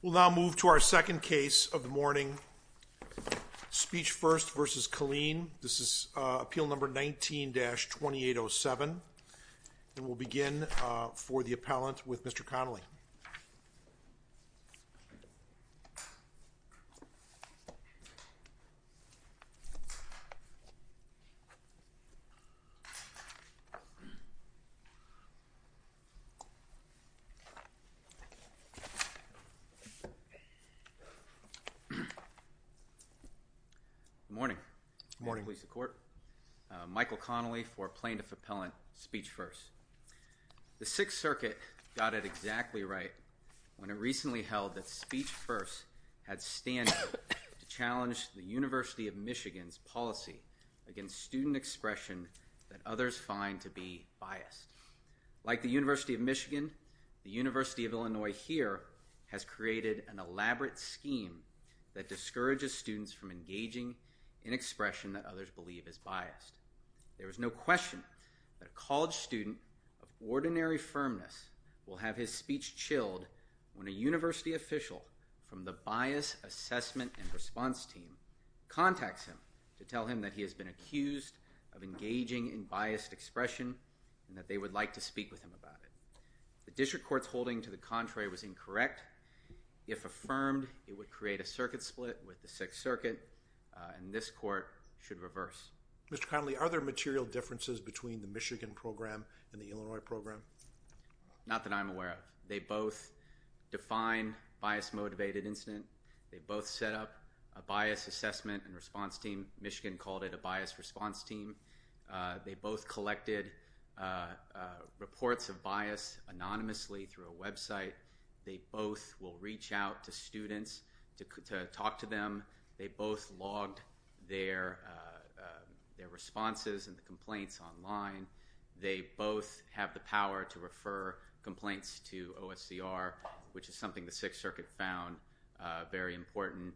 We'll now move to our second case of the morning, Speech First v. Killeen. This is Michael Connolly for Plaintiff Appellant, Speech First. The Sixth Circuit got it exactly right when it recently held that Speech First had standing to challenge the University of Illinois's student expression that others find to be biased. Like the University of Michigan, the University of Illinois here has created an elaborate scheme that discourages students from engaging in expression that others believe is biased. There is no question that a college student of ordinary firmness will have his speech chilled when a university official from the Bias Assessment and Response Team contacts him to tell him that he has been accused of engaging in biased expression and that they would like to speak with him about it. The district court's holding to the contrary was incorrect. If affirmed, it would create a circuit split with the Sixth Circuit and this court should reverse. Mr. Connolly, are there material differences between the Michigan program and the Illinois program? Not that I'm aware of. They both define bias-motivated incident. They both set up a Bias Assessment and Response Team. Michigan called it a Bias Response Team. They both collected reports of bias anonymously through a website. They both will reach out to students to talk to them. They both logged their responses and the complaints online. They both have the power to refer complaints to OSCR, which is something the Sixth Circuit found very important.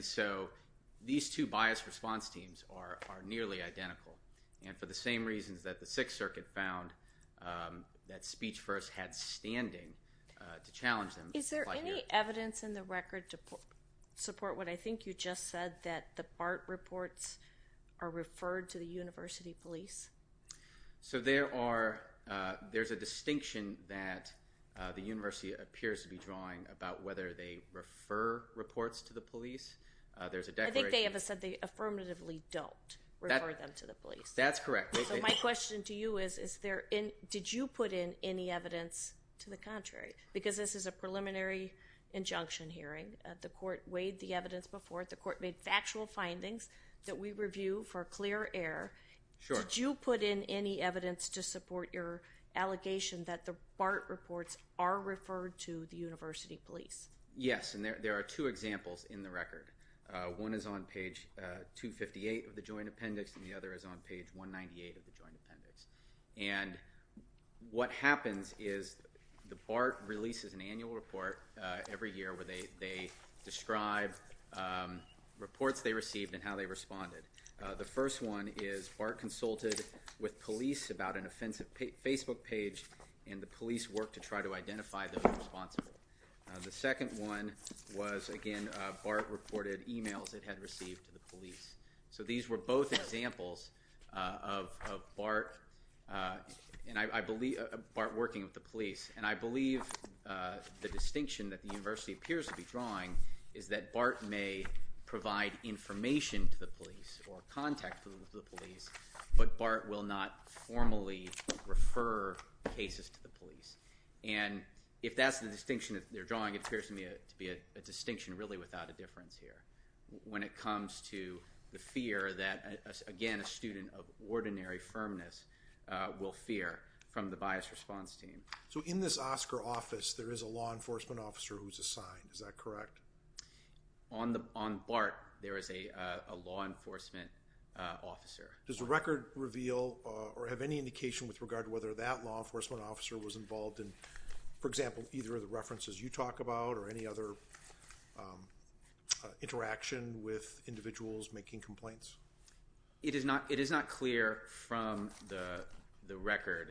So these two Bias Response Teams are nearly identical and for the same reasons that the Sixth Circuit found that Speech First had standing to challenge them. Is there any evidence in the record to support what I think you just said that the BART reports are referred to the university police? So there's a distinction that the university appears to be drawing about whether they refer reports to the police. There's a declaration... I think they have said they affirmatively don't refer them to the police. That's correct. My question to you is, did you put in any evidence to the contrary? Because this is a preliminary injunction hearing. The court weighed the evidence before. The court made factual findings that we review for clear air. Did you put in any evidence to support your allegation that the BART reports are referred to the university police? Yes, and there are two examples in the record. One is on page 258 of the Joint Appendix and the other is on page 198 of the Joint Appendix. And what happens is the BART releases an annual report every year where they describe reports they received and how they responded. The first one is BART consulted with police about an offensive Facebook page and the police worked to try to identify those responsible. The second one was, again, BART reported emails it had received to the police. So these were both examples of BART working with the police. And I believe the distinction that the university appears to be drawing is that BART may provide information to the police or contact the police, but BART will not formally refer cases to the police. And if that's the distinction they're drawing, it appears to me to be a distinction really without a difference here when it comes to the fear that, again, a student of ordinary firmness will fear from the biased response team. So in this Oscar office, there is a law enforcement officer who's assigned. Is that correct? On BART, there is a law enforcement officer. Does the record reveal or have any indication with regard to whether that law enforcement officer was involved in, for example, either of the references you talk about or any other interaction with individuals making complaints? It is not clear from the record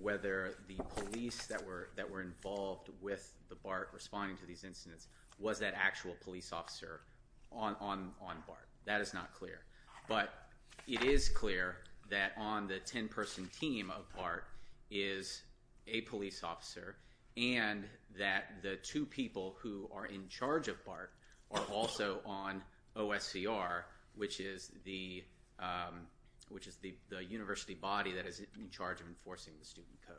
whether the police that were involved with the BART responding to these incidents was that actual police officer on BART. That is not clear. But it is clear that on the 10-person team of BART is a police officer and that the two people who are in charge of BART are also on OSCR, which is the university body that is in charge of enforcing the student code.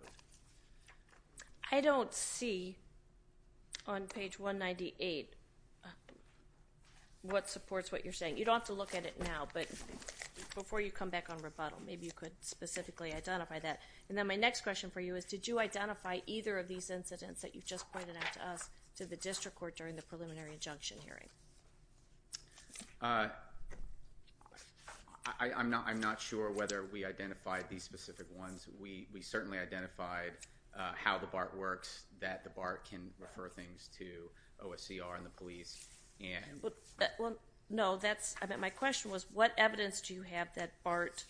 I don't see on page 198 what supports what you're saying. You don't have to look at it now. But before you come back on rebuttal, maybe you could specifically identify that. And then my next question for you is did you identify either of these incidents that you just pointed out to us to the district court during the preliminary injunction hearing? I'm not sure whether we identified these specific ones. We certainly identified how the BART works, that the BART can refer things to OSCR and the police. No, my question was what evidence do you have that BART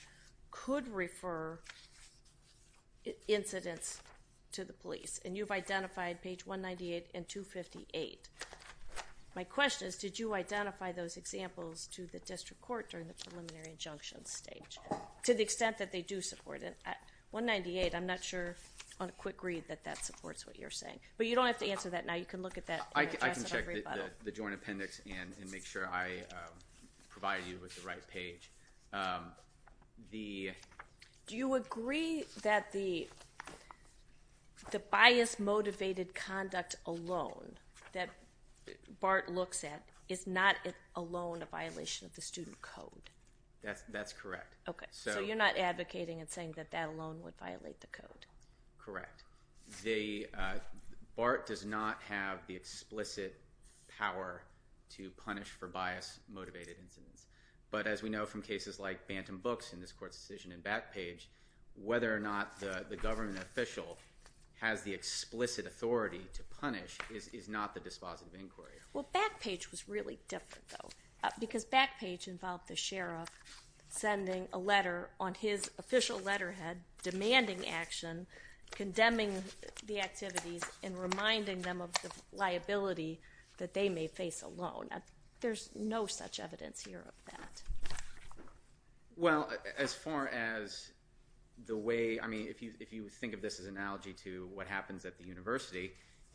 could refer incidents to the police? And you've identified page 198 and 258. My question is did you identify those examples to the district court during the preliminary injunction stage to the extent that they do support it? 198, I'm not sure on a quick read that that supports what you're saying. But you don't have to answer that now. You can look at that and address it on rebuttal. The joint appendix and make sure I provide you with the right page. Do you agree that the bias-motivated conduct alone that BART looks at is not alone a violation of the student code? That's correct. Okay, so you're not advocating and saying that that alone would violate the code? Correct. BART does not have the explicit power to punish for bias-motivated incidents. But as we know from cases like Bantam Books in this court's decision and Backpage, whether or not the government official has the explicit authority to punish is not the dispositive inquiry. Well, Backpage was really different, though, because Backpage involved the sheriff sending a letter on his official letterhead demanding action, condemning the activities, and reminding them of the liability that they may face alone. There's no such evidence here of that. Well, as far as the way, I mean, if you think of this as an analogy to what happens at the university,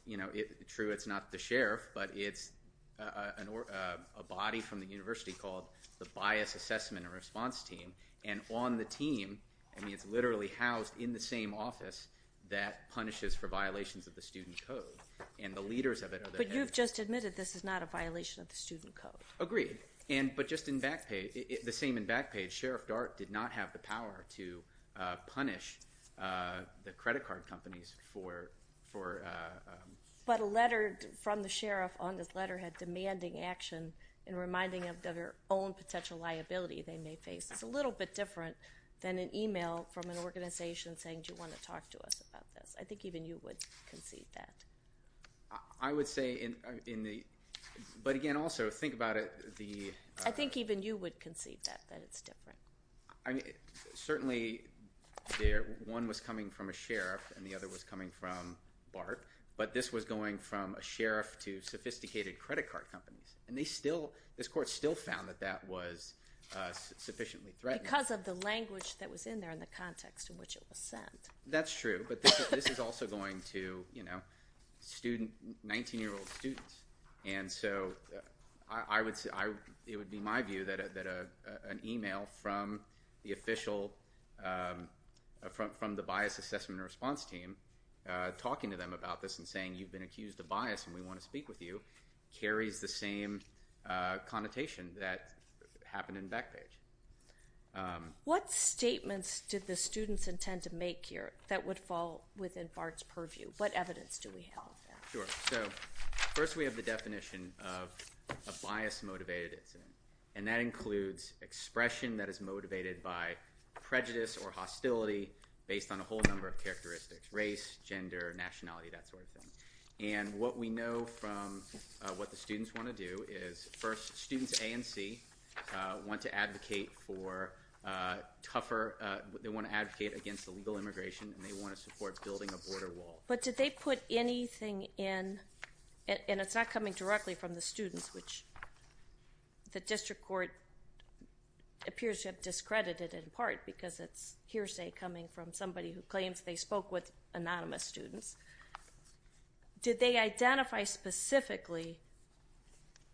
you know, true, it's not the sheriff, but it's a body from the university called the Bias Assessment and Response Team. And on the team, I mean, it's literally housed in the same office that punishes for violations of the student code. And the leaders of it are the head... But you've just admitted this is not a violation of the student code. Agreed. But just in Backpage, the same in Backpage, Sheriff Dart did not have the power to punish the credit card companies for... But a letter from the sheriff on his letterhead demanding action and reminding them of their own potential liability they may face. It's a little bit different than an email from an organization saying, do you want to talk to us about this? I think even you would concede that. I would say in the... But again, also, think about it, the... I think even you would concede that, that it's different. Certainly, one was coming from a sheriff and the other was coming from Bart, but this was going from a sheriff to sophisticated credit card companies. And they still, this court still found that that was sufficiently threatening. Because of the language that was in there and the context in which it was sent. That's true, but this is also going to, you know, student, 19-year-old students. And so I would say, it would be my view that an email from the official, from the bias assessment response team, talking to them about this and saying, you've been accused of bias and we want to speak with you, carries the same connotation that happened in Backpage. What statements did the students intend to make here that would fall within Bart's purview? What evidence do we have? Sure. So, first we have the definition of a bias-motivated incident. And that includes expression that is motivated by prejudice or hostility based on a whole number of characteristics, race, gender, nationality, that sort of thing. And what we know from what the students want to do is, first, students A and C want to advocate for tougher, they want to advocate against illegal immigration and they want to support building a border wall. But did they put anything in, and it's not coming directly from the students, which the district court appears to have discredited in part because it's hearsay coming from somebody who claims they spoke with anonymous students. Did they identify specifically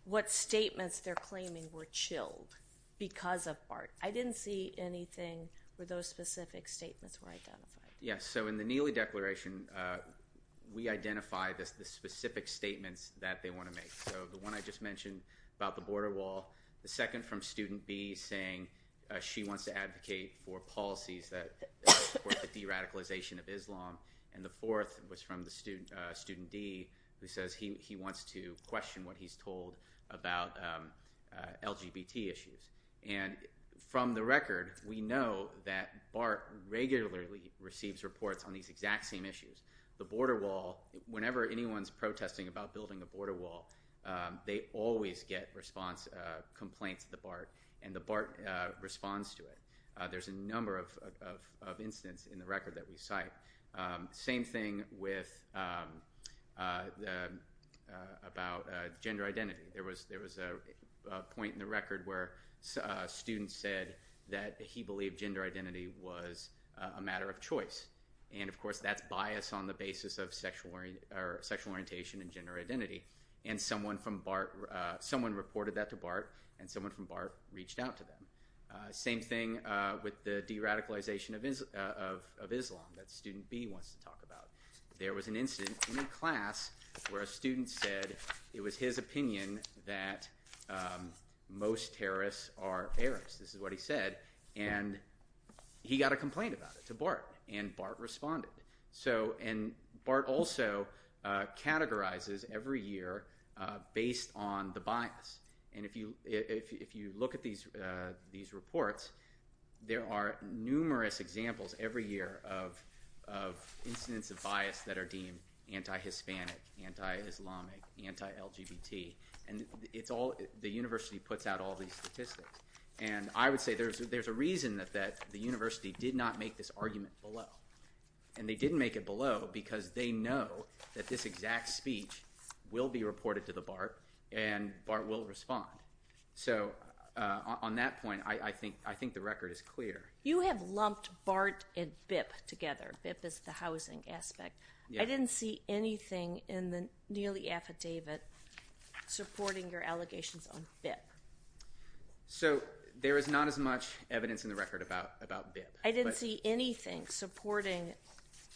what statements they're claiming were chilled because of Bart? I didn't see anything where those specific statements were identified. Yes. So, in the Neely Declaration, we identify the specific statements that they want to make. So, the one I just mentioned about the border wall, the second from student B saying she wants to advocate for policies that support the de-radicalization of Islam, and the fourth was from the student D who says he wants to question what he's told about LGBT issues. And from the record, we know that Bart regularly receives reports on these exact same issues. The border wall, whenever anyone's protesting about building a border wall, they always get response complaints to the Bart, and the Bart responds to it. There's a number of instances in the record that we cite. Same thing about gender identity. There was a point in the record where a student said that he believed gender identity was a matter of choice. And, of course, that's bias on the basis of sexual orientation and gender identity. And someone from Bart, someone reported that to Bart, and someone from Bart reached out to them. Same thing with the de-radicalization of Islam that student B wants to talk about. There was an incident in a class where a student said it was his opinion that most terrorists are Arabs. This is what he said. And he got a complaint about it to Bart, and Bart responded. And Bart also categorizes every year based on the bias. And if you look at these reports, there are numerous examples every year of incidents of bias that are deemed anti-Hispanic, anti-Islamic, anti-LGBT. And it's all – the university puts out all these statistics. And I would say there's a reason that the university did not make this argument below. And they didn't make it below because they know that this exact speech will be reported to the Bart, and Bart will respond. So on that point, I think the record is clear. You have lumped Bart and BIP together. BIP is the housing aspect. I didn't see anything in the Neely affidavit supporting your allegations on BIP. So there is not as much evidence in the record about BIP. I didn't see anything supporting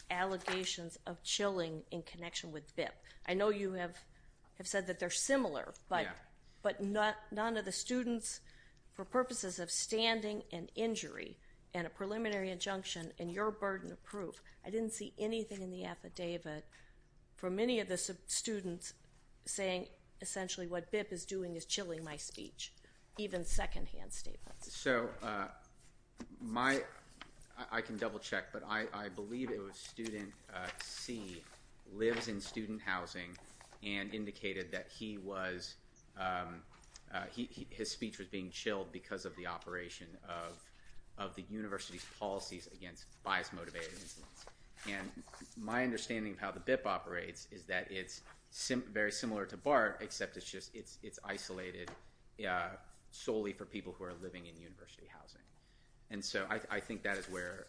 allegations of chilling in connection with BIP. I know you have said that they're similar, but none of the students, for purposes of standing and injury and a preliminary injunction and your burden of proof, I didn't see anything in the affidavit from any of the students saying essentially what BIP is doing is chilling my speech, even secondhand statements. So my – I can double-check, but I believe it was student C lives in student housing and indicated that he was – his speech was being chilled because of the operation of the university's policies against bias-motivated incidents. And my understanding of how the BIP operates is that it's very similar to Bart, except it's isolated solely for people who are living in university housing. And so I think that is where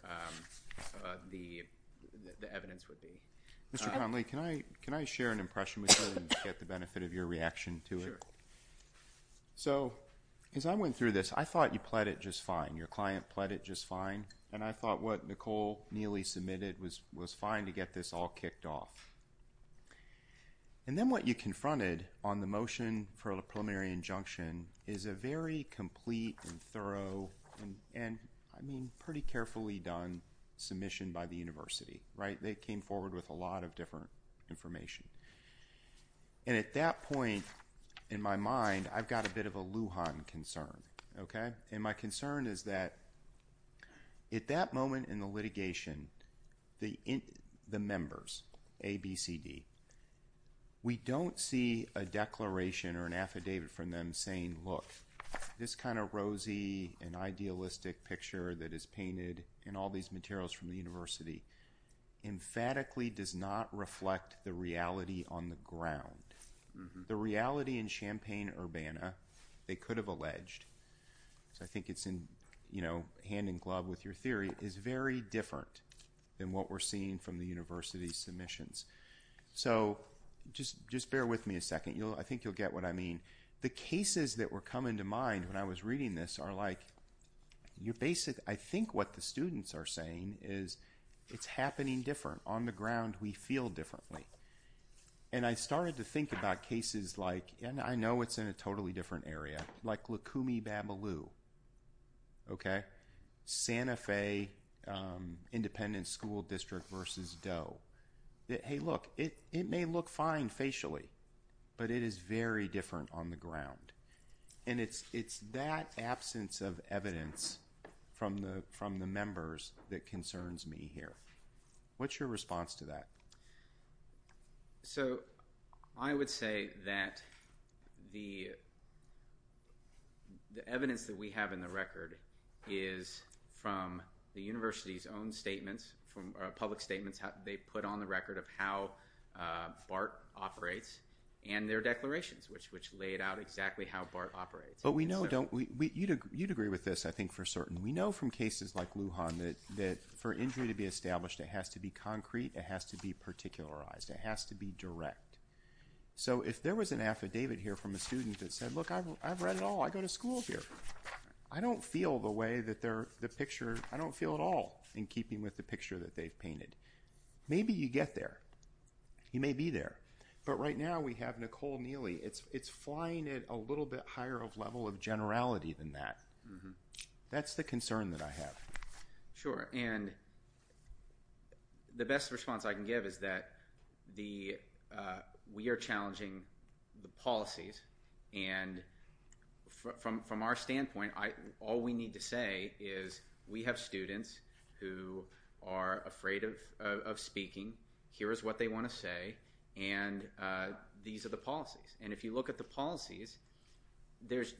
the evidence would be. Mr. Connolly, can I share an impression with you and get the benefit of your reaction to it? Sure. So as I went through this, I thought you pled it just fine. Your client pled it just fine. And I thought what Nicole Neely submitted was fine to get this all kicked off. And then what you confronted on the motion for a preliminary injunction is a very complete and thorough and, I mean, pretty carefully done submission by the university, right? They came forward with a lot of different information. And at that point in my mind, I've got a bit of a Lujan concern, okay? And my concern is that at that moment in the litigation, the members, A, B, C, D, we don't see a declaration or an affidavit from them saying, look, this kind of rosy and idealistic picture that is painted in all these materials from the university emphatically does not reflect the reality on the ground. The reality in Champaign-Urbana, they could have alleged, because I think it's hand in glove with your theory, is very different than what we're seeing from the university's submissions. So just bear with me a second. I think you'll get what I mean. The cases that were coming to mind when I was reading this are like, I think what the students are saying is it's happening different. On the ground we feel differently. And I started to think about cases like, and I know it's in a totally different area, like Lukumi-Bamaloo, okay? Santa Fe Independent School District versus Doe. Hey, look, it may look fine facially, but it is very different on the ground. And it's that absence of evidence from the members that concerns me here. What's your response to that? So, I would say that the evidence that we have in the record is from the university's own statements, from public statements they put on the record of how BART operates and their declarations, which laid out exactly how BART operates. But we know, don't we, you'd agree with this, I think, for certain. We know from cases like this that it has to be particularized. It has to be direct. So, if there was an affidavit here from a student that said, look, I've read it all. I go to school here. I don't feel the way that the picture, I don't feel at all in keeping with the picture that they've painted. Maybe you get there. You may be there. But right now we have Nicole Neely. It's flying at a little bit higher of level of generality than that. That's the concern that I have. Sure. And the best response I can give is that we are challenging the policies. And from our standpoint, all we need to say is we have students who are afraid of speaking. Here is what they want to say. And these are the policies. And if you look at the policies, there's,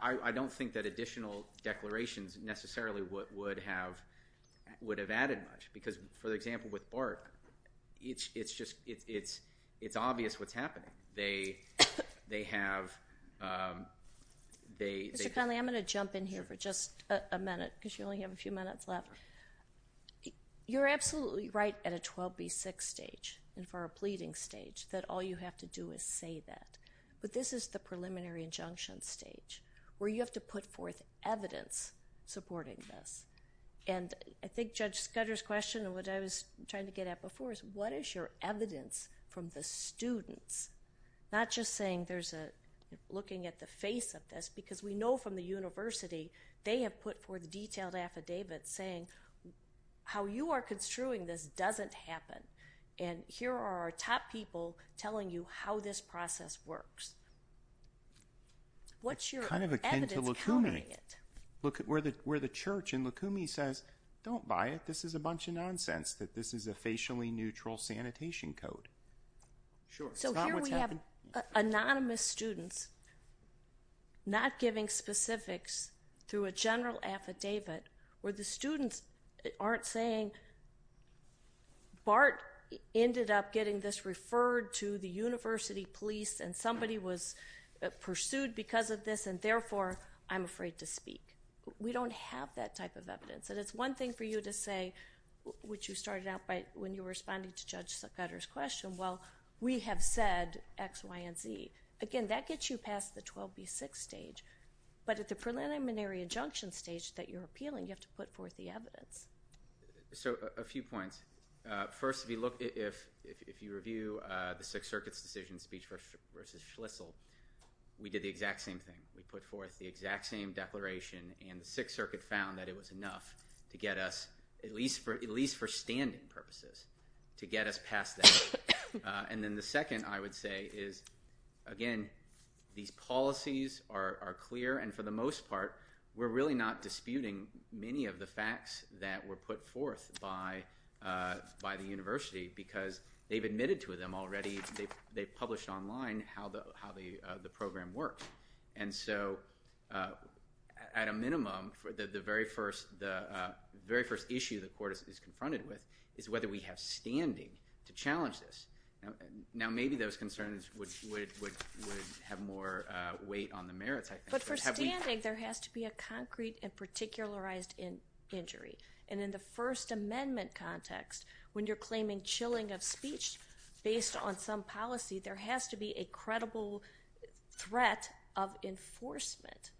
I don't think that additional declarations necessarily would have added much. Because for example, with BART, it's obvious what's happening. They have, they have... Mr. Connolly, I'm going to jump in here for just a minute because you only have a few minutes left. You're absolutely right at a 12B6 stage and for a pleading stage that all you have to do is say that. But this is the preliminary injunction stage where you have to put forth evidence supporting this. And I think Judge Scudder's question, what I was trying to get at before, is what is your evidence from the students? Not just saying there's a looking at the face of this because we know from the university, they have put forth detailed affidavits saying how you are construing this doesn't happen. And here are our top people telling you how this process works. What's your evidence counting it? It's kind of akin to Lacumi. Look at where the church in Lacumi says, don't buy it. This is a bunch of nonsense that this is a facially neutral sanitation code. Sure. It's not what's happening. So here we have anonymous students not giving specifics through a general affidavit where the students aren't saying, Bart ended up getting this referred to the university police and somebody was pursued because of this and therefore I'm afraid to speak. We don't have that type of evidence. And it's one thing for you to say, which you started out by when you were responding to Judge Scudder's question, well, we have said X, Y, and Z. Again, that gets you past the 12B6 stage. But at the preliminary injunction stage that you're appealing, you have to put forth the evidence. So a few points. First, if you review the Sixth Circuit's decision speech versus Schlissel, we did the exact same thing. We put forth the exact same declaration and the Sixth Circuit found that it was enough to get us, at least for standing purposes, to get us past that. And then the second I would say is, again, these policies are clear and for the most part, they're not disputing many of the facts that were put forth by the university because they've admitted to them already. They've published online how the program works. And so, at a minimum, the very first issue the court is confronted with is whether we have standing to challenge this. Now, maybe those concerns would have more weight on the merits, I think. But for standing, there has to be a concrete and particularized injury. And in the First Amendment context, when you're claiming chilling of speech based on some policy, there has to be a credible threat of enforcement.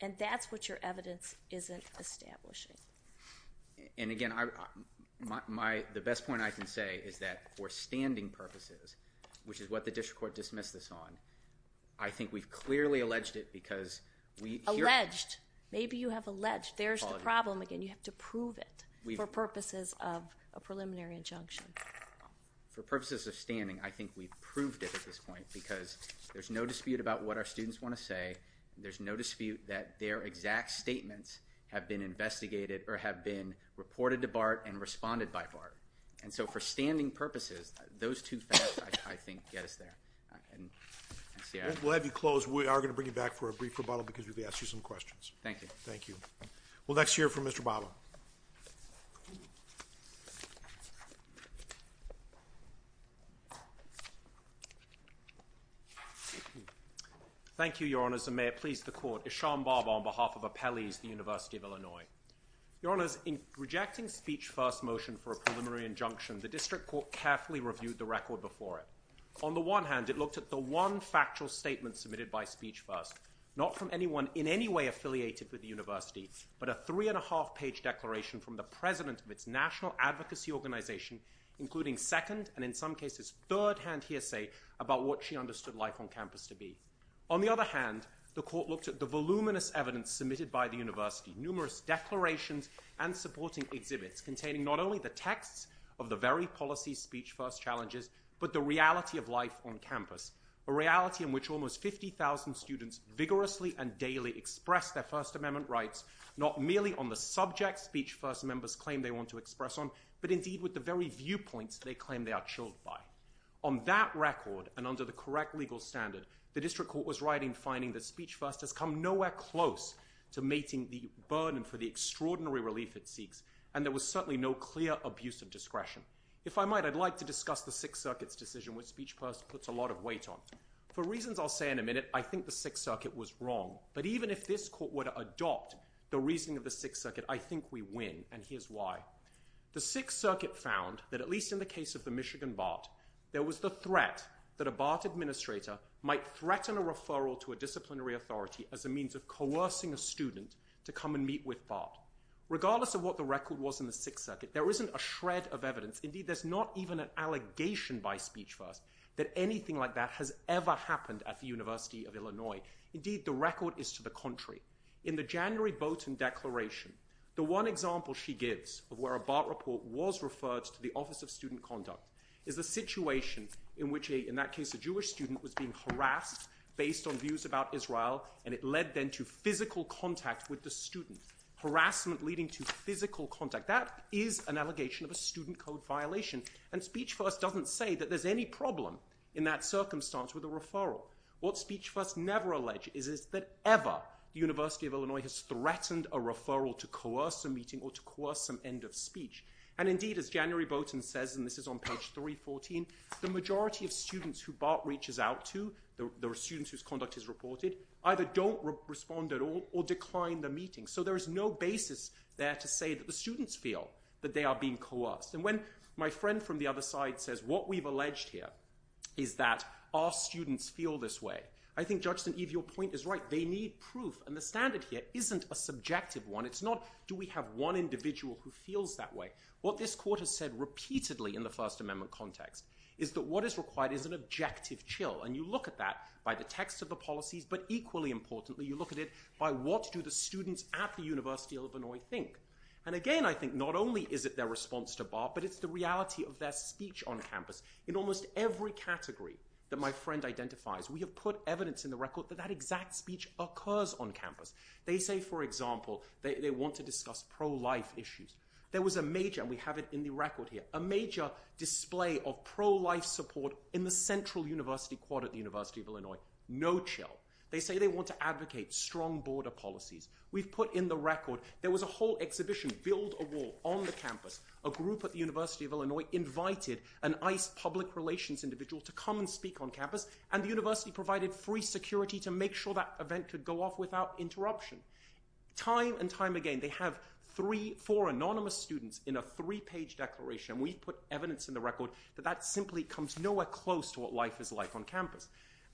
And that's what your evidence isn't establishing. And again, the best point I can say is that for standing purposes, which is what the district court dismissed this on, I think we've clearly alleged it because we hear... Alleged. Maybe you have alleged. There's the problem. Again, you have to prove it for purposes of a preliminary injunction. For purposes of standing, I think we've proved it at this point because there's no dispute about what our students want to say. There's no dispute that their exact statements have been investigated or have been reported to BART and responded by BART. And so, for standing purposes, those two facts, I think, get us there. We'll have you close. We are going to bring you back for a brief rebuttal because we're going to ask you some questions. Thank you. Thank you. We'll next hear from Mr. Bava. Thank you, Your Honors. And may it please the Court, Ishaan Bava on behalf of Appellees University of Illinois. Your Honors, in rejecting speech first motion for a preliminary injunction, the District Court carefully reviewed the record before it. On the one hand, it looked at the one factual statement submitted by speech first, not from anyone in any way affiliated with the university, but a three-and-a-half-page declaration from the president of its national advocacy organization, including second and, in some cases, third-hand hearsay about what she understood life on campus to be. On the other hand, the Court looked at the voluminous evidence submitted by the university, numerous declarations and supporting exhibits containing not only the texts of the very policy speech first challenges, but the reality of life on campus, a reality in which almost 50,000 students vigorously and daily express their First Amendment rights, not merely on the subject speech first members claim they want to express on, but indeed with the very viewpoints they claim they are chilled by. On that record, and under the correct legal standard, the District Court was right in saying that speech first has come nowhere close to mating the burden for the extraordinary relief it seeks, and there was certainly no clear abuse of discretion. If I might, I'd like to discuss the Sixth Circuit's decision, which speech first puts a lot of weight on. For reasons I'll say in a minute, I think the Sixth Circuit was wrong, but even if this Court were to adopt the reasoning of the Sixth Circuit, I think we win, and here's why. The Sixth Circuit found that, at least in the case of the Michigan BART, there was the referral to a disciplinary authority as a means of coercing a student to come and meet with BART. Regardless of what the record was in the Sixth Circuit, there isn't a shred of evidence, indeed there's not even an allegation by speech first that anything like that has ever happened at the University of Illinois. Indeed, the record is to the contrary. In the January Boaten Declaration, the one example she gives of where a BART report was referred to the Office of Student Conduct is the situation in which, in that case, a based on views about Israel, and it led then to physical contact with the student, harassment leading to physical contact. That is an allegation of a student code violation, and speech first doesn't say that there's any problem in that circumstance with a referral. What speech first never alleged is that ever the University of Illinois has threatened a referral to coerce a meeting or to coerce some end of speech, and indeed, as January Boaten says, and this is on page 314, the majority of students who BART reaches out to, the students whose conduct is reported, either don't respond at all or decline the meeting. So there is no basis there to say that the students feel that they are being coerced. And when my friend from the other side says, what we've alleged here is that our students feel this way, I think, Judge St. Eve, your point is right. They need proof, and the standard here isn't a subjective one. It's not, do we have one individual who feels that way? What this court has said repeatedly in the First Amendment context is that what is required is an objective chill, and you look at that by the text of the policies, but equally importantly, you look at it by what do the students at the University of Illinois think. And again, I think not only is it their response to BART, but it's the reality of their speech on campus. In almost every category that my friend identifies, we have put evidence in the record that that exact speech occurs on campus. They say, for example, they want to discuss pro-life issues. There was a major, and we have it in the record here, a major display of pro-life support in the central university quad at the University of Illinois, no chill. They say they want to advocate strong border policies. We've put in the record, there was a whole exhibition, Build a Wall, on the campus. A group at the University of Illinois invited an ICE public relations individual to come and speak on campus, and the university provided free security to make sure that event could go off without interruption. Time and time again, they have three, four anonymous students in a three-page declaration, and we've put evidence in the record that that simply comes nowhere close to what life is like on campus.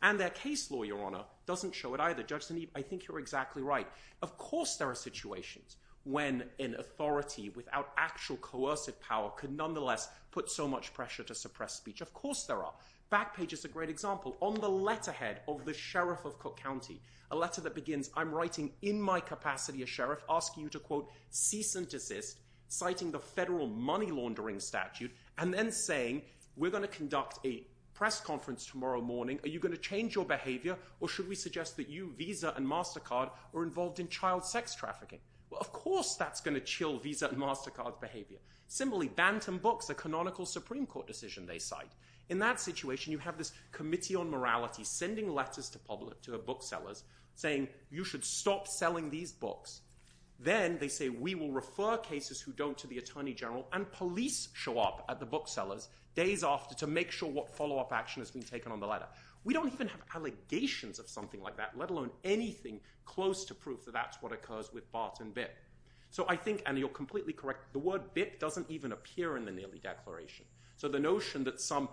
And their case law, Your Honor, doesn't show it either. Judge Sinead, I think you're exactly right. Of course there are situations when an authority without actual coercive power could nonetheless put so much pressure to suppress speech. Of course there are. Backpage is a great example. On the letterhead of the sheriff of Cook County, a letter that begins, I'm writing in my capacity as sheriff, asking you to, quote, cease and desist, citing the federal money laundering statute, and then saying, we're going to conduct a press conference tomorrow morning. Are you going to change your behavior, or should we suggest that you, Visa and MasterCard, are involved in child sex trafficking? Well, of course that's going to chill Visa and MasterCard's behavior. Similarly, Bantam Books, a canonical Supreme Court decision, they cite. In that situation, you have this committee on morality sending letters to booksellers saying, you should stop selling these books. Then they say, we will refer cases who don't to the attorney general, and police show up at the booksellers days after to make sure what follow-up action has been taken on the letter. We don't even have allegations of something like that, let alone anything close to proof that that's what occurs with Bart and Bitt. So I think, and you're completely correct, the word Bitt doesn't even appear in the Neely Declaration. So the notion that some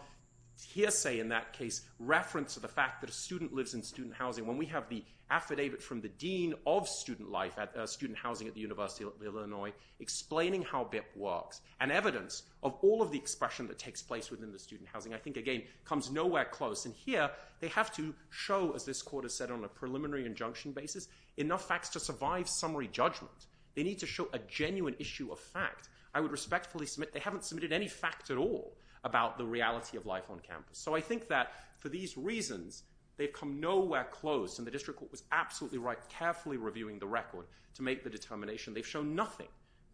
hearsay in that case, reference to the fact that a student lives in student housing, when we have the affidavit from the dean of student life, student housing at the University of Illinois, explaining how Bitt works, and evidence of all of the expression that takes place within the student housing, I think, again, comes nowhere close. And here, they have to show, as this court has said on a preliminary injunction basis, enough facts to survive summary judgment. They need to show a genuine issue of fact. I would respectfully submit they haven't submitted any facts at all about the reality of life on campus. So I think that, for these reasons, they've come nowhere close. And the district court was absolutely right, carefully reviewing the record to make the determination. They've shown nothing,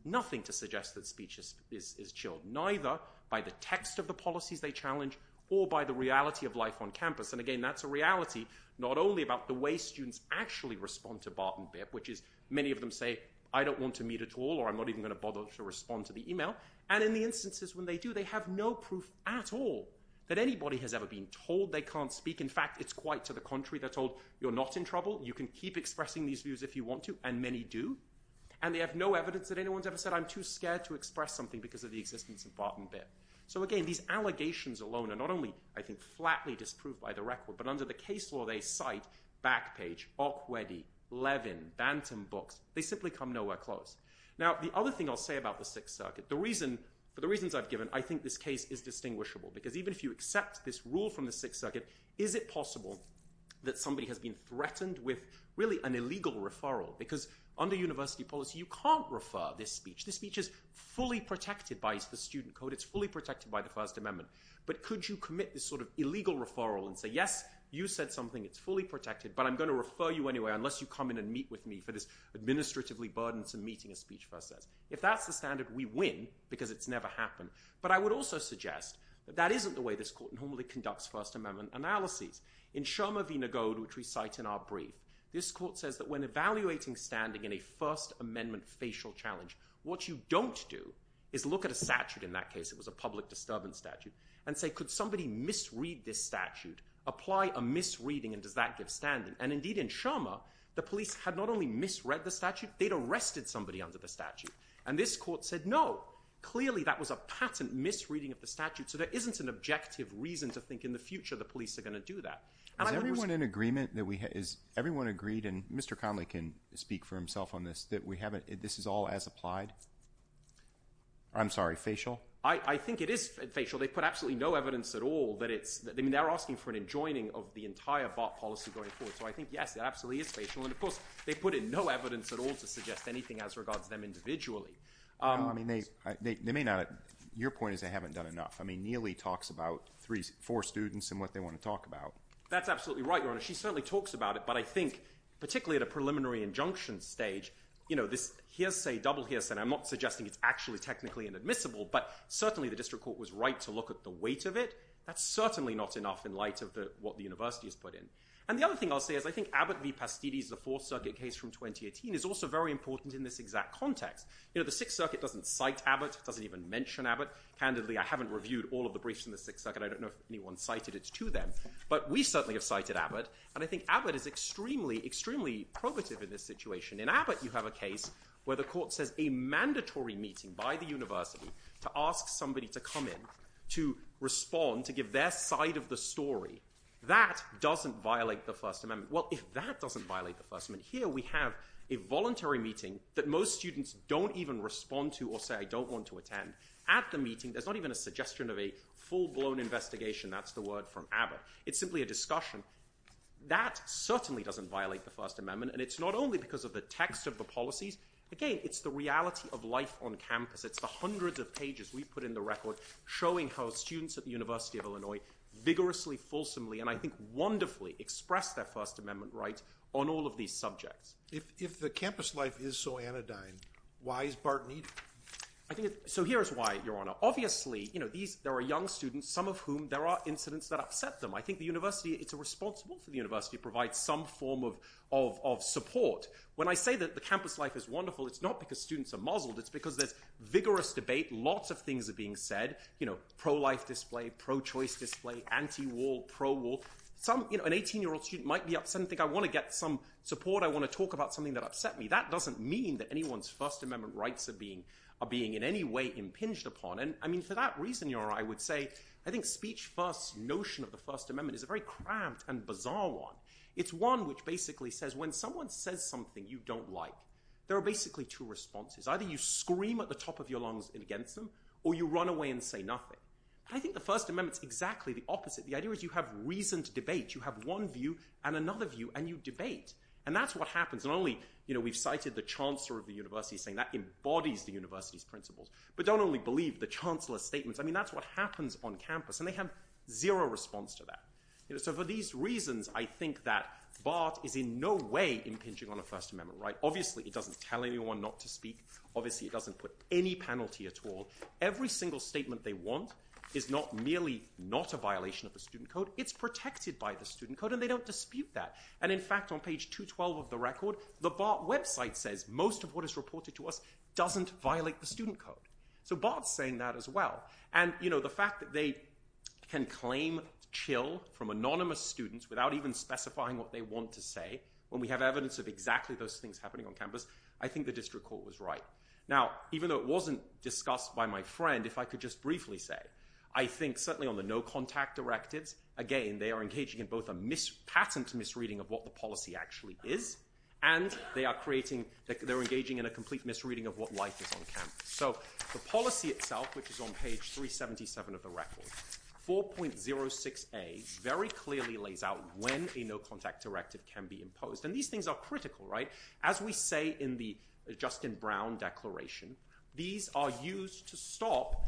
nothing to suggest that speech is chilled, neither by the text of the policies they challenge, or by the reality of life on campus. And again, that's a reality not only about the way students actually respond to Bart and Bitt, which is, many of them say, I don't want to meet at all, or I'm not even going to bother to respond to the email. And in the instances when they do, they have no proof at all that anybody has ever been told they can't speak. In fact, it's quite to the contrary. They're told, you're not in trouble. You can keep expressing these views if you want to, and many do. And they have no evidence that anyone's ever said, I'm too scared to express something because of the existence of Bart and Bitt. So again, these allegations alone are not only, I think, flatly disproved by the record, but under the case law, they cite Backpage, Okwedi, Levin, Bantam Books. They simply come nowhere close. Now, the other thing I'll say about the Sixth Circuit, for the reasons I've given, I think this case is distinguishable. Because even if you accept this rule from the Sixth Circuit, is it possible that somebody has been threatened with, really, an illegal referral? Because under university policy, you can't refer this speech. This speech is fully protected by the student code. It's fully protected by the First Amendment. But could you commit this sort of illegal referral and say, yes, you said something, it's fully protected, but I'm going to refer you anyway, unless you come in and meet with me for this administratively burdensome meeting, as Speech First says. If that's the standard, we win, because it's never happened. But I would also suggest that that isn't the way this court normally conducts First Amendment analyses. In Shermer v. Nagode, which we cite in our brief, this court says that when evaluating standing in a First Amendment facial challenge, what you don't do is look at a statute, in that case it was a public disturbance statute, and say, could somebody misread this statute? Apply a misreading, and does that give standing? And, indeed, in Shermer, the police had not only misread the statute, they'd arrested somebody under the statute. And this court said, no, clearly that was a patent misreading of the statute, so there isn't an objective reason to think in the future the police are going to do that. Is everyone in agreement? Has everyone agreed, and Mr. Conley can speak for himself on this, that this is all as applied? I'm sorry, facial? I think it is facial. They've put absolutely no evidence at all that it's – I mean, they're asking for an enjoining of the entire BART policy going forward. So I think, yes, it absolutely is facial. And, of course, they put in no evidence at all to suggest anything as regards to them individually. I mean, they may not – your point is they haven't done enough. I mean, Neely talks about four students and what they want to talk about. That's absolutely right, Your Honor. She certainly talks about it, but I think particularly at a preliminary injunction stage, you know, this hearsay, double hearsay, and I'm not suggesting it's actually technically inadmissible, but certainly the district court was right to look at the weight of it. That's certainly not enough in light of what the university has put in. And the other thing I'll say is I think Abbott v. Pastidi's, the Fourth Circuit case from 2018, is also very important in this exact context. You know, the Sixth Circuit doesn't cite Abbott, doesn't even mention Abbott. Candidly, I haven't reviewed all of the briefs in the Sixth Circuit. I don't know if anyone cited it to them, but we certainly have cited Abbott, and I think Abbott is extremely, extremely probative in this situation. In Abbott, you have a case where the court says a mandatory meeting by the university to ask somebody to come in to respond, to give their side of the story. That doesn't violate the First Amendment. Well, if that doesn't violate the First Amendment, here we have a voluntary meeting that most students don't even respond to or say, I don't want to attend. At the meeting, there's not even a suggestion of a full-blown investigation. That's the word from Abbott. It's simply a discussion. That certainly doesn't violate the First Amendment, and it's not only because of the text of the policies. Again, it's the reality of life on campus. It's the hundreds of pages we put in the record showing how students at the University of Illinois vigorously, fulsomely, and I think wonderfully express their First Amendment rights on all of these subjects. If the campus life is so anodyne, why is Bart needed? So here is why, Your Honor. Obviously, there are young students, some of whom there are incidents that upset them. I think the university, it's responsible for the university to provide some form of support. When I say that the campus life is wonderful, it's not because students are muzzled. It's because there's vigorous debate. Lots of things are being said. Pro-life display, pro-choice display, anti-war, pro-war. An 18-year-old student might be upset and think, I want to get some support. I want to talk about something that upset me. That doesn't mean that anyone's First Amendment rights are being in any way impinged upon. For that reason, Your Honor, I would say, I think speech first's notion of the First Amendment is a very cramped and bizarre one. It's one which basically says when someone says something you don't like, there are basically two responses. Either you scream at the top of your lungs against them, or you run away and say nothing. I think the First Amendment's exactly the opposite. The idea is you have reason to debate. You have one view and another view, and you debate. That's what happens. Not only we've cited the chancellor of the university saying that embodies the university's principles, but don't only believe the chancellor's statements. That's what happens on campus, and they have zero response to that. For these reasons, I think that BART is in no way impinging on a First Amendment right. Obviously, it doesn't tell anyone not to speak. Obviously, it doesn't put any penalty at all. Every single statement they want is not merely not a violation of the student code. It's protected by the student code, and they don't dispute that. In fact, on page 212 of the record, the BART website says most of what is reported to us doesn't violate the student code. So BART's saying that as well. The fact that they can claim chill from anonymous students without even specifying what they want to say, when we have evidence of exactly those things happening on campus, I think the district court was right. Now, even though it wasn't discussed by my friend, if I could just briefly say, I think certainly on the no-contact directives, again, they are engaging in both a patent misreading of what the policy actually is, and they are engaging in a complete misreading of what life is on campus. So the policy itself, which is on page 377 of the record, 4.06a very clearly lays out when a no-contact directive can be imposed. And these things are critical, right? As we say in the Justin Brown Declaration, these are used to stop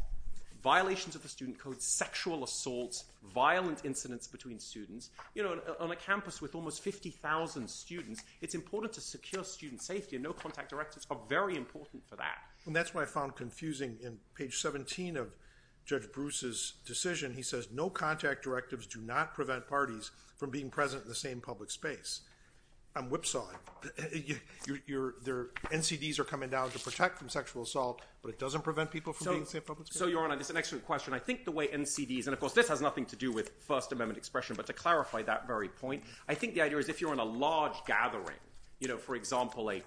violations of the student code, sexual assaults, violent incidents between students. On a campus with almost 50,000 students, it's important to secure student safety, and no-contact directives are very important for that. And that's what I found confusing in page 17 of Judge Bruce's decision. He says no-contact directives do not prevent parties from being present in the same public space. I'm whipsawing. Their NCDs are coming down to protect from sexual assault, but it doesn't prevent people from being in the same public space? So, Your Honor, it's an excellent question. I think the way NCDs, and of course this has nothing to do with First Amendment expression, but to clarify that very point, I think the idea is if you're in a large gathering, for example a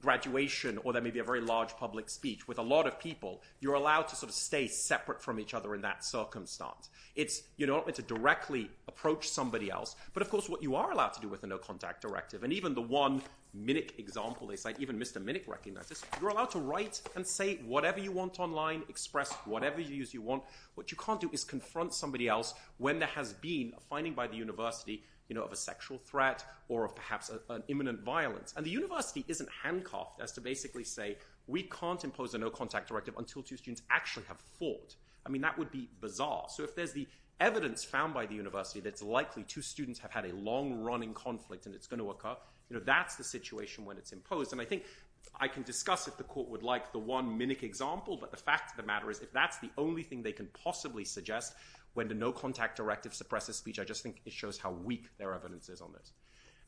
graduation or there may be a very large public speech with a lot of people, you're allowed to sort of stay separate from each other in that circumstance. You're not meant to directly approach somebody else, but of course what you are allowed to do with a no-contact directive, and even the one Minnick example they cite, even Mr. Minnick recognizes, you're allowed to write and say whatever you want online, express whatever views you want. What you can't do is confront somebody else when there has been a finding by the university of a sexual threat or of perhaps an imminent violence. And the university isn't handcuffed as to basically say we can't impose a no-contact directive until two students actually have fought. I mean that would be bizarre. So if there's the evidence found by the university that's likely two students have had a long-running conflict and it's going to occur, that's the situation when it's imposed. And I think I can discuss if the court would like the one Minnick example, but the fact of the matter is if that's the only thing they can possibly suggest when the no-contact directive suppresses speech, I just think it shows how weak their evidence is on this.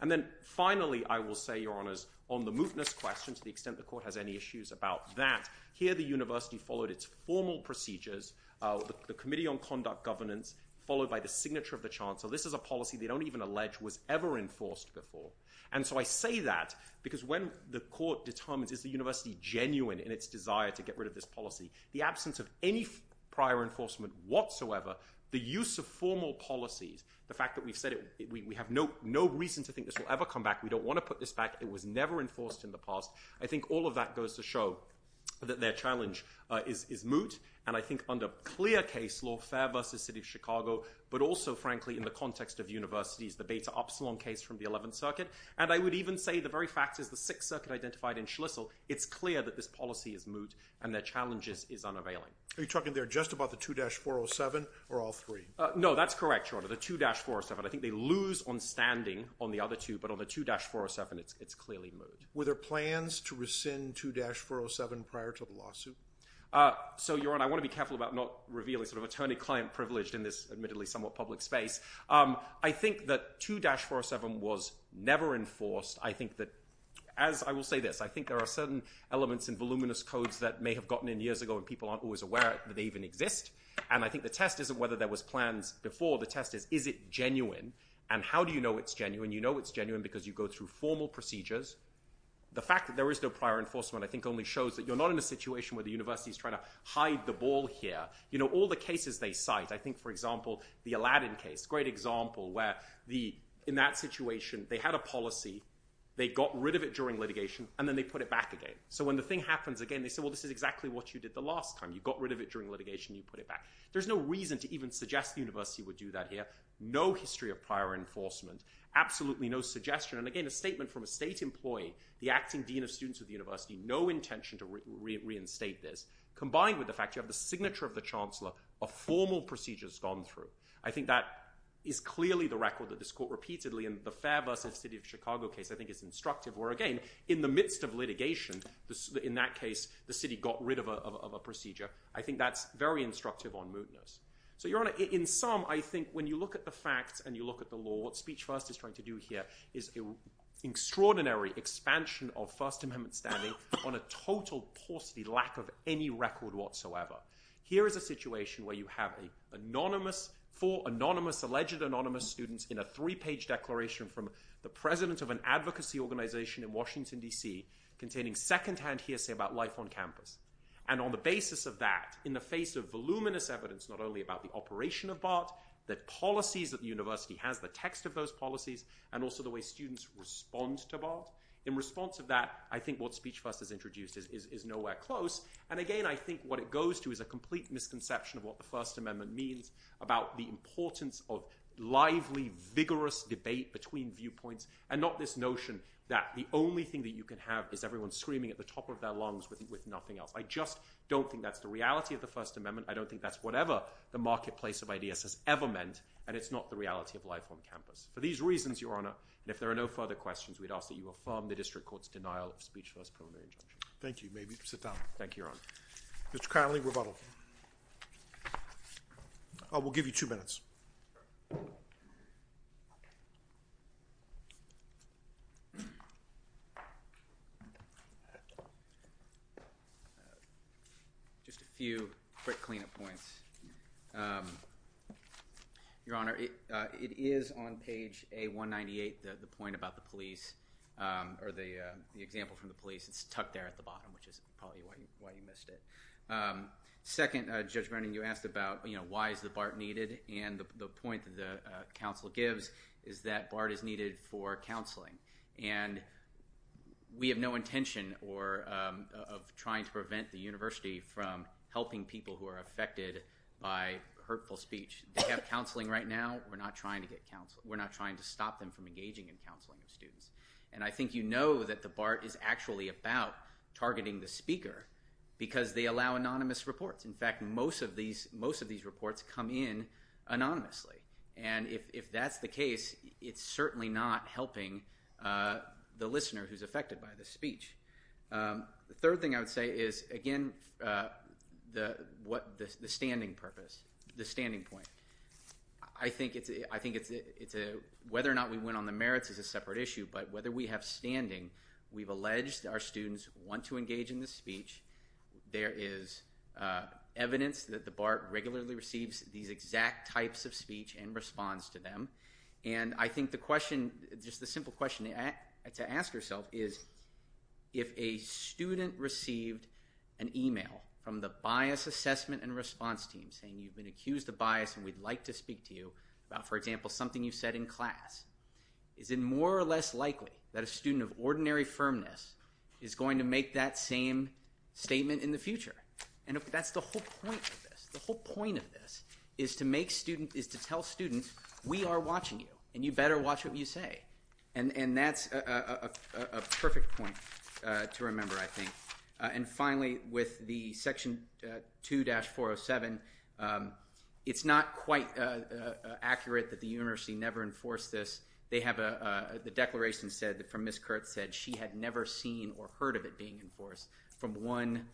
And then finally I will say, Your Honors, on the mootness question to the extent the court has any issues about that, here the university followed its formal procedures, the Committee on Conduct Governance, followed by the signature of the Chancellor. This is a policy they don't even allege was ever enforced before. And so I say that because when the court determines is the university genuine in its desire to get rid of this policy, the absence of any prior enforcement whatsoever, the use of formal policies, the fact that we've said we have no reason to think this will ever come back, we don't want to put this back, it was never enforced in the past. I think all of that goes to show that their challenge is moot, and I think under clear case law, but also frankly in the context of universities, the Beta Upsilon case from the 11th Circuit, and I would even say the very fact is the 6th Circuit identified in Schlissel, it's clear that this policy is moot and their challenge is unavailing. Are you talking there just about the 2-407 or all three? No, that's correct, Your Honor, the 2-407. I think they lose on standing on the other two, but on the 2-407 it's clearly moot. Were there plans to rescind 2-407 prior to the lawsuit? So, Your Honor, I want to be careful about not revealing sort of attorney-client privilege in this admittedly somewhat public space. I think that 2-407 was never enforced. I think that, as I will say this, I think there are certain elements in voluminous codes that may have gotten in years ago and people aren't always aware that they even exist, and I think the test isn't whether there was plans before, the test is is it genuine, and how do you know it's genuine? You know it's genuine because you go through formal procedures. The fact that there is no prior enforcement I think only shows that you're not in a situation where the university is trying to hide the ball here. You know, all the cases they cite, I think, for example, the Aladdin case, great example, where in that situation they had a policy, they got rid of it during litigation, and then they put it back again. So when the thing happens again, they say, well, this is exactly what you did the last time. You got rid of it during litigation, you put it back. There's no reason to even suggest the university would do that here. No history of prior enforcement. Absolutely no suggestion, and again, a statement from a state employee, the acting dean of students of the university, no intention to reinstate this. Combined with the fact you have the signature of the chancellor, a formal procedure's gone through. I think that is clearly the record that is caught repeatedly, and the Fairbusters City of Chicago case I think is instructive, where again, in the midst of litigation, in that case, the city got rid of a procedure. I think that's very instructive on Moutoners. So, Your Honor, in sum, I think when you look at the facts and you look at the law, what Speech First is trying to do here is an extraordinary expansion of First Amendment standing on a total paucity, lack of any record whatsoever. Here is a situation where you have four anonymous, alleged anonymous students in a three-page declaration from the president of an advocacy organization in Washington, D.C., containing secondhand hearsay about life on campus, and on the basis of that, in the face of voluminous evidence not only about the operation of BART, the policies that the university has, the text of those policies, and also the way students respond to BART. In response to that, I think what Speech First has introduced is nowhere close, and again, I think what it goes to is a complete misconception of what the First Amendment means, about the importance of lively, vigorous debate between viewpoints, and not this notion that the only thing that you can have is everyone screaming at the top of their lungs with nothing else. I just don't think that's the reality of the First Amendment. I don't think that's whatever the marketplace of ideas has ever meant, and it's not the reality of life on campus. For these reasons, Your Honor, and if there are no further questions, we'd ask that you affirm the district court's denial of Speech First preliminary injunction. Thank you. May we sit down? Thank you, Your Honor. Mr. Connolly, rebuttal. We'll give you two minutes. Just a few quick clean-up points. Your Honor, it is on page A198, the point about the police, or the example from the police. It's tucked there at the bottom, which is probably why you missed it. Second, Judge Brennan, you asked about, you know, why is the BART needed, and the point that the counsel gives is that BART is needed for counseling. And we have no intention of trying to prevent the university from helping people who are affected by hurtful speech. They have counseling right now. We're not trying to stop them from engaging in counseling of students. And I think you know that the BART is actually about targeting the speaker because they allow anonymous reports. In fact, most of these reports come in anonymously. And if that's the case, it's certainly not helping the listener who's affected by the speech. The third thing I would say is, again, the standing purpose, the standing point. I think it's whether or not we went on the merits is a separate issue, but whether we have standing, we've alleged our students want to engage in this speech. There is evidence that the BART regularly receives these exact types of speech and responds to them. And I think the question, just the simple question to ask yourself is, if a student received an email from the bias assessment and response team saying you've been accused of bias and we'd like to speak to you about, for example, something you said in class, is it more or less likely that a student of ordinary firmness is going to make that same statement in the future? And that's the whole point of this. The whole point of this is to tell students we are watching you and you better watch what you say. And that's a perfect point to remember, I think. And finally, with the Section 2-407, it's not quite accurate that the university never enforced this. They have a declaration said from Ms. Kurtz said she had never seen or heard of it being enforced from one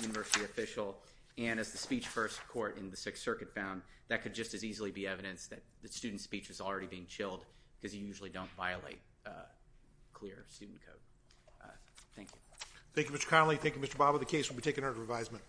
university official. And as the speech first court in the Sixth Circuit found, that could just as easily be evidence that the student's speech was already being chilled because you usually don't violate clear student code. Thank you. Thank you, Mr. Connolly. Thank you, Mr. Bobbitt. The case will be taken under revisement.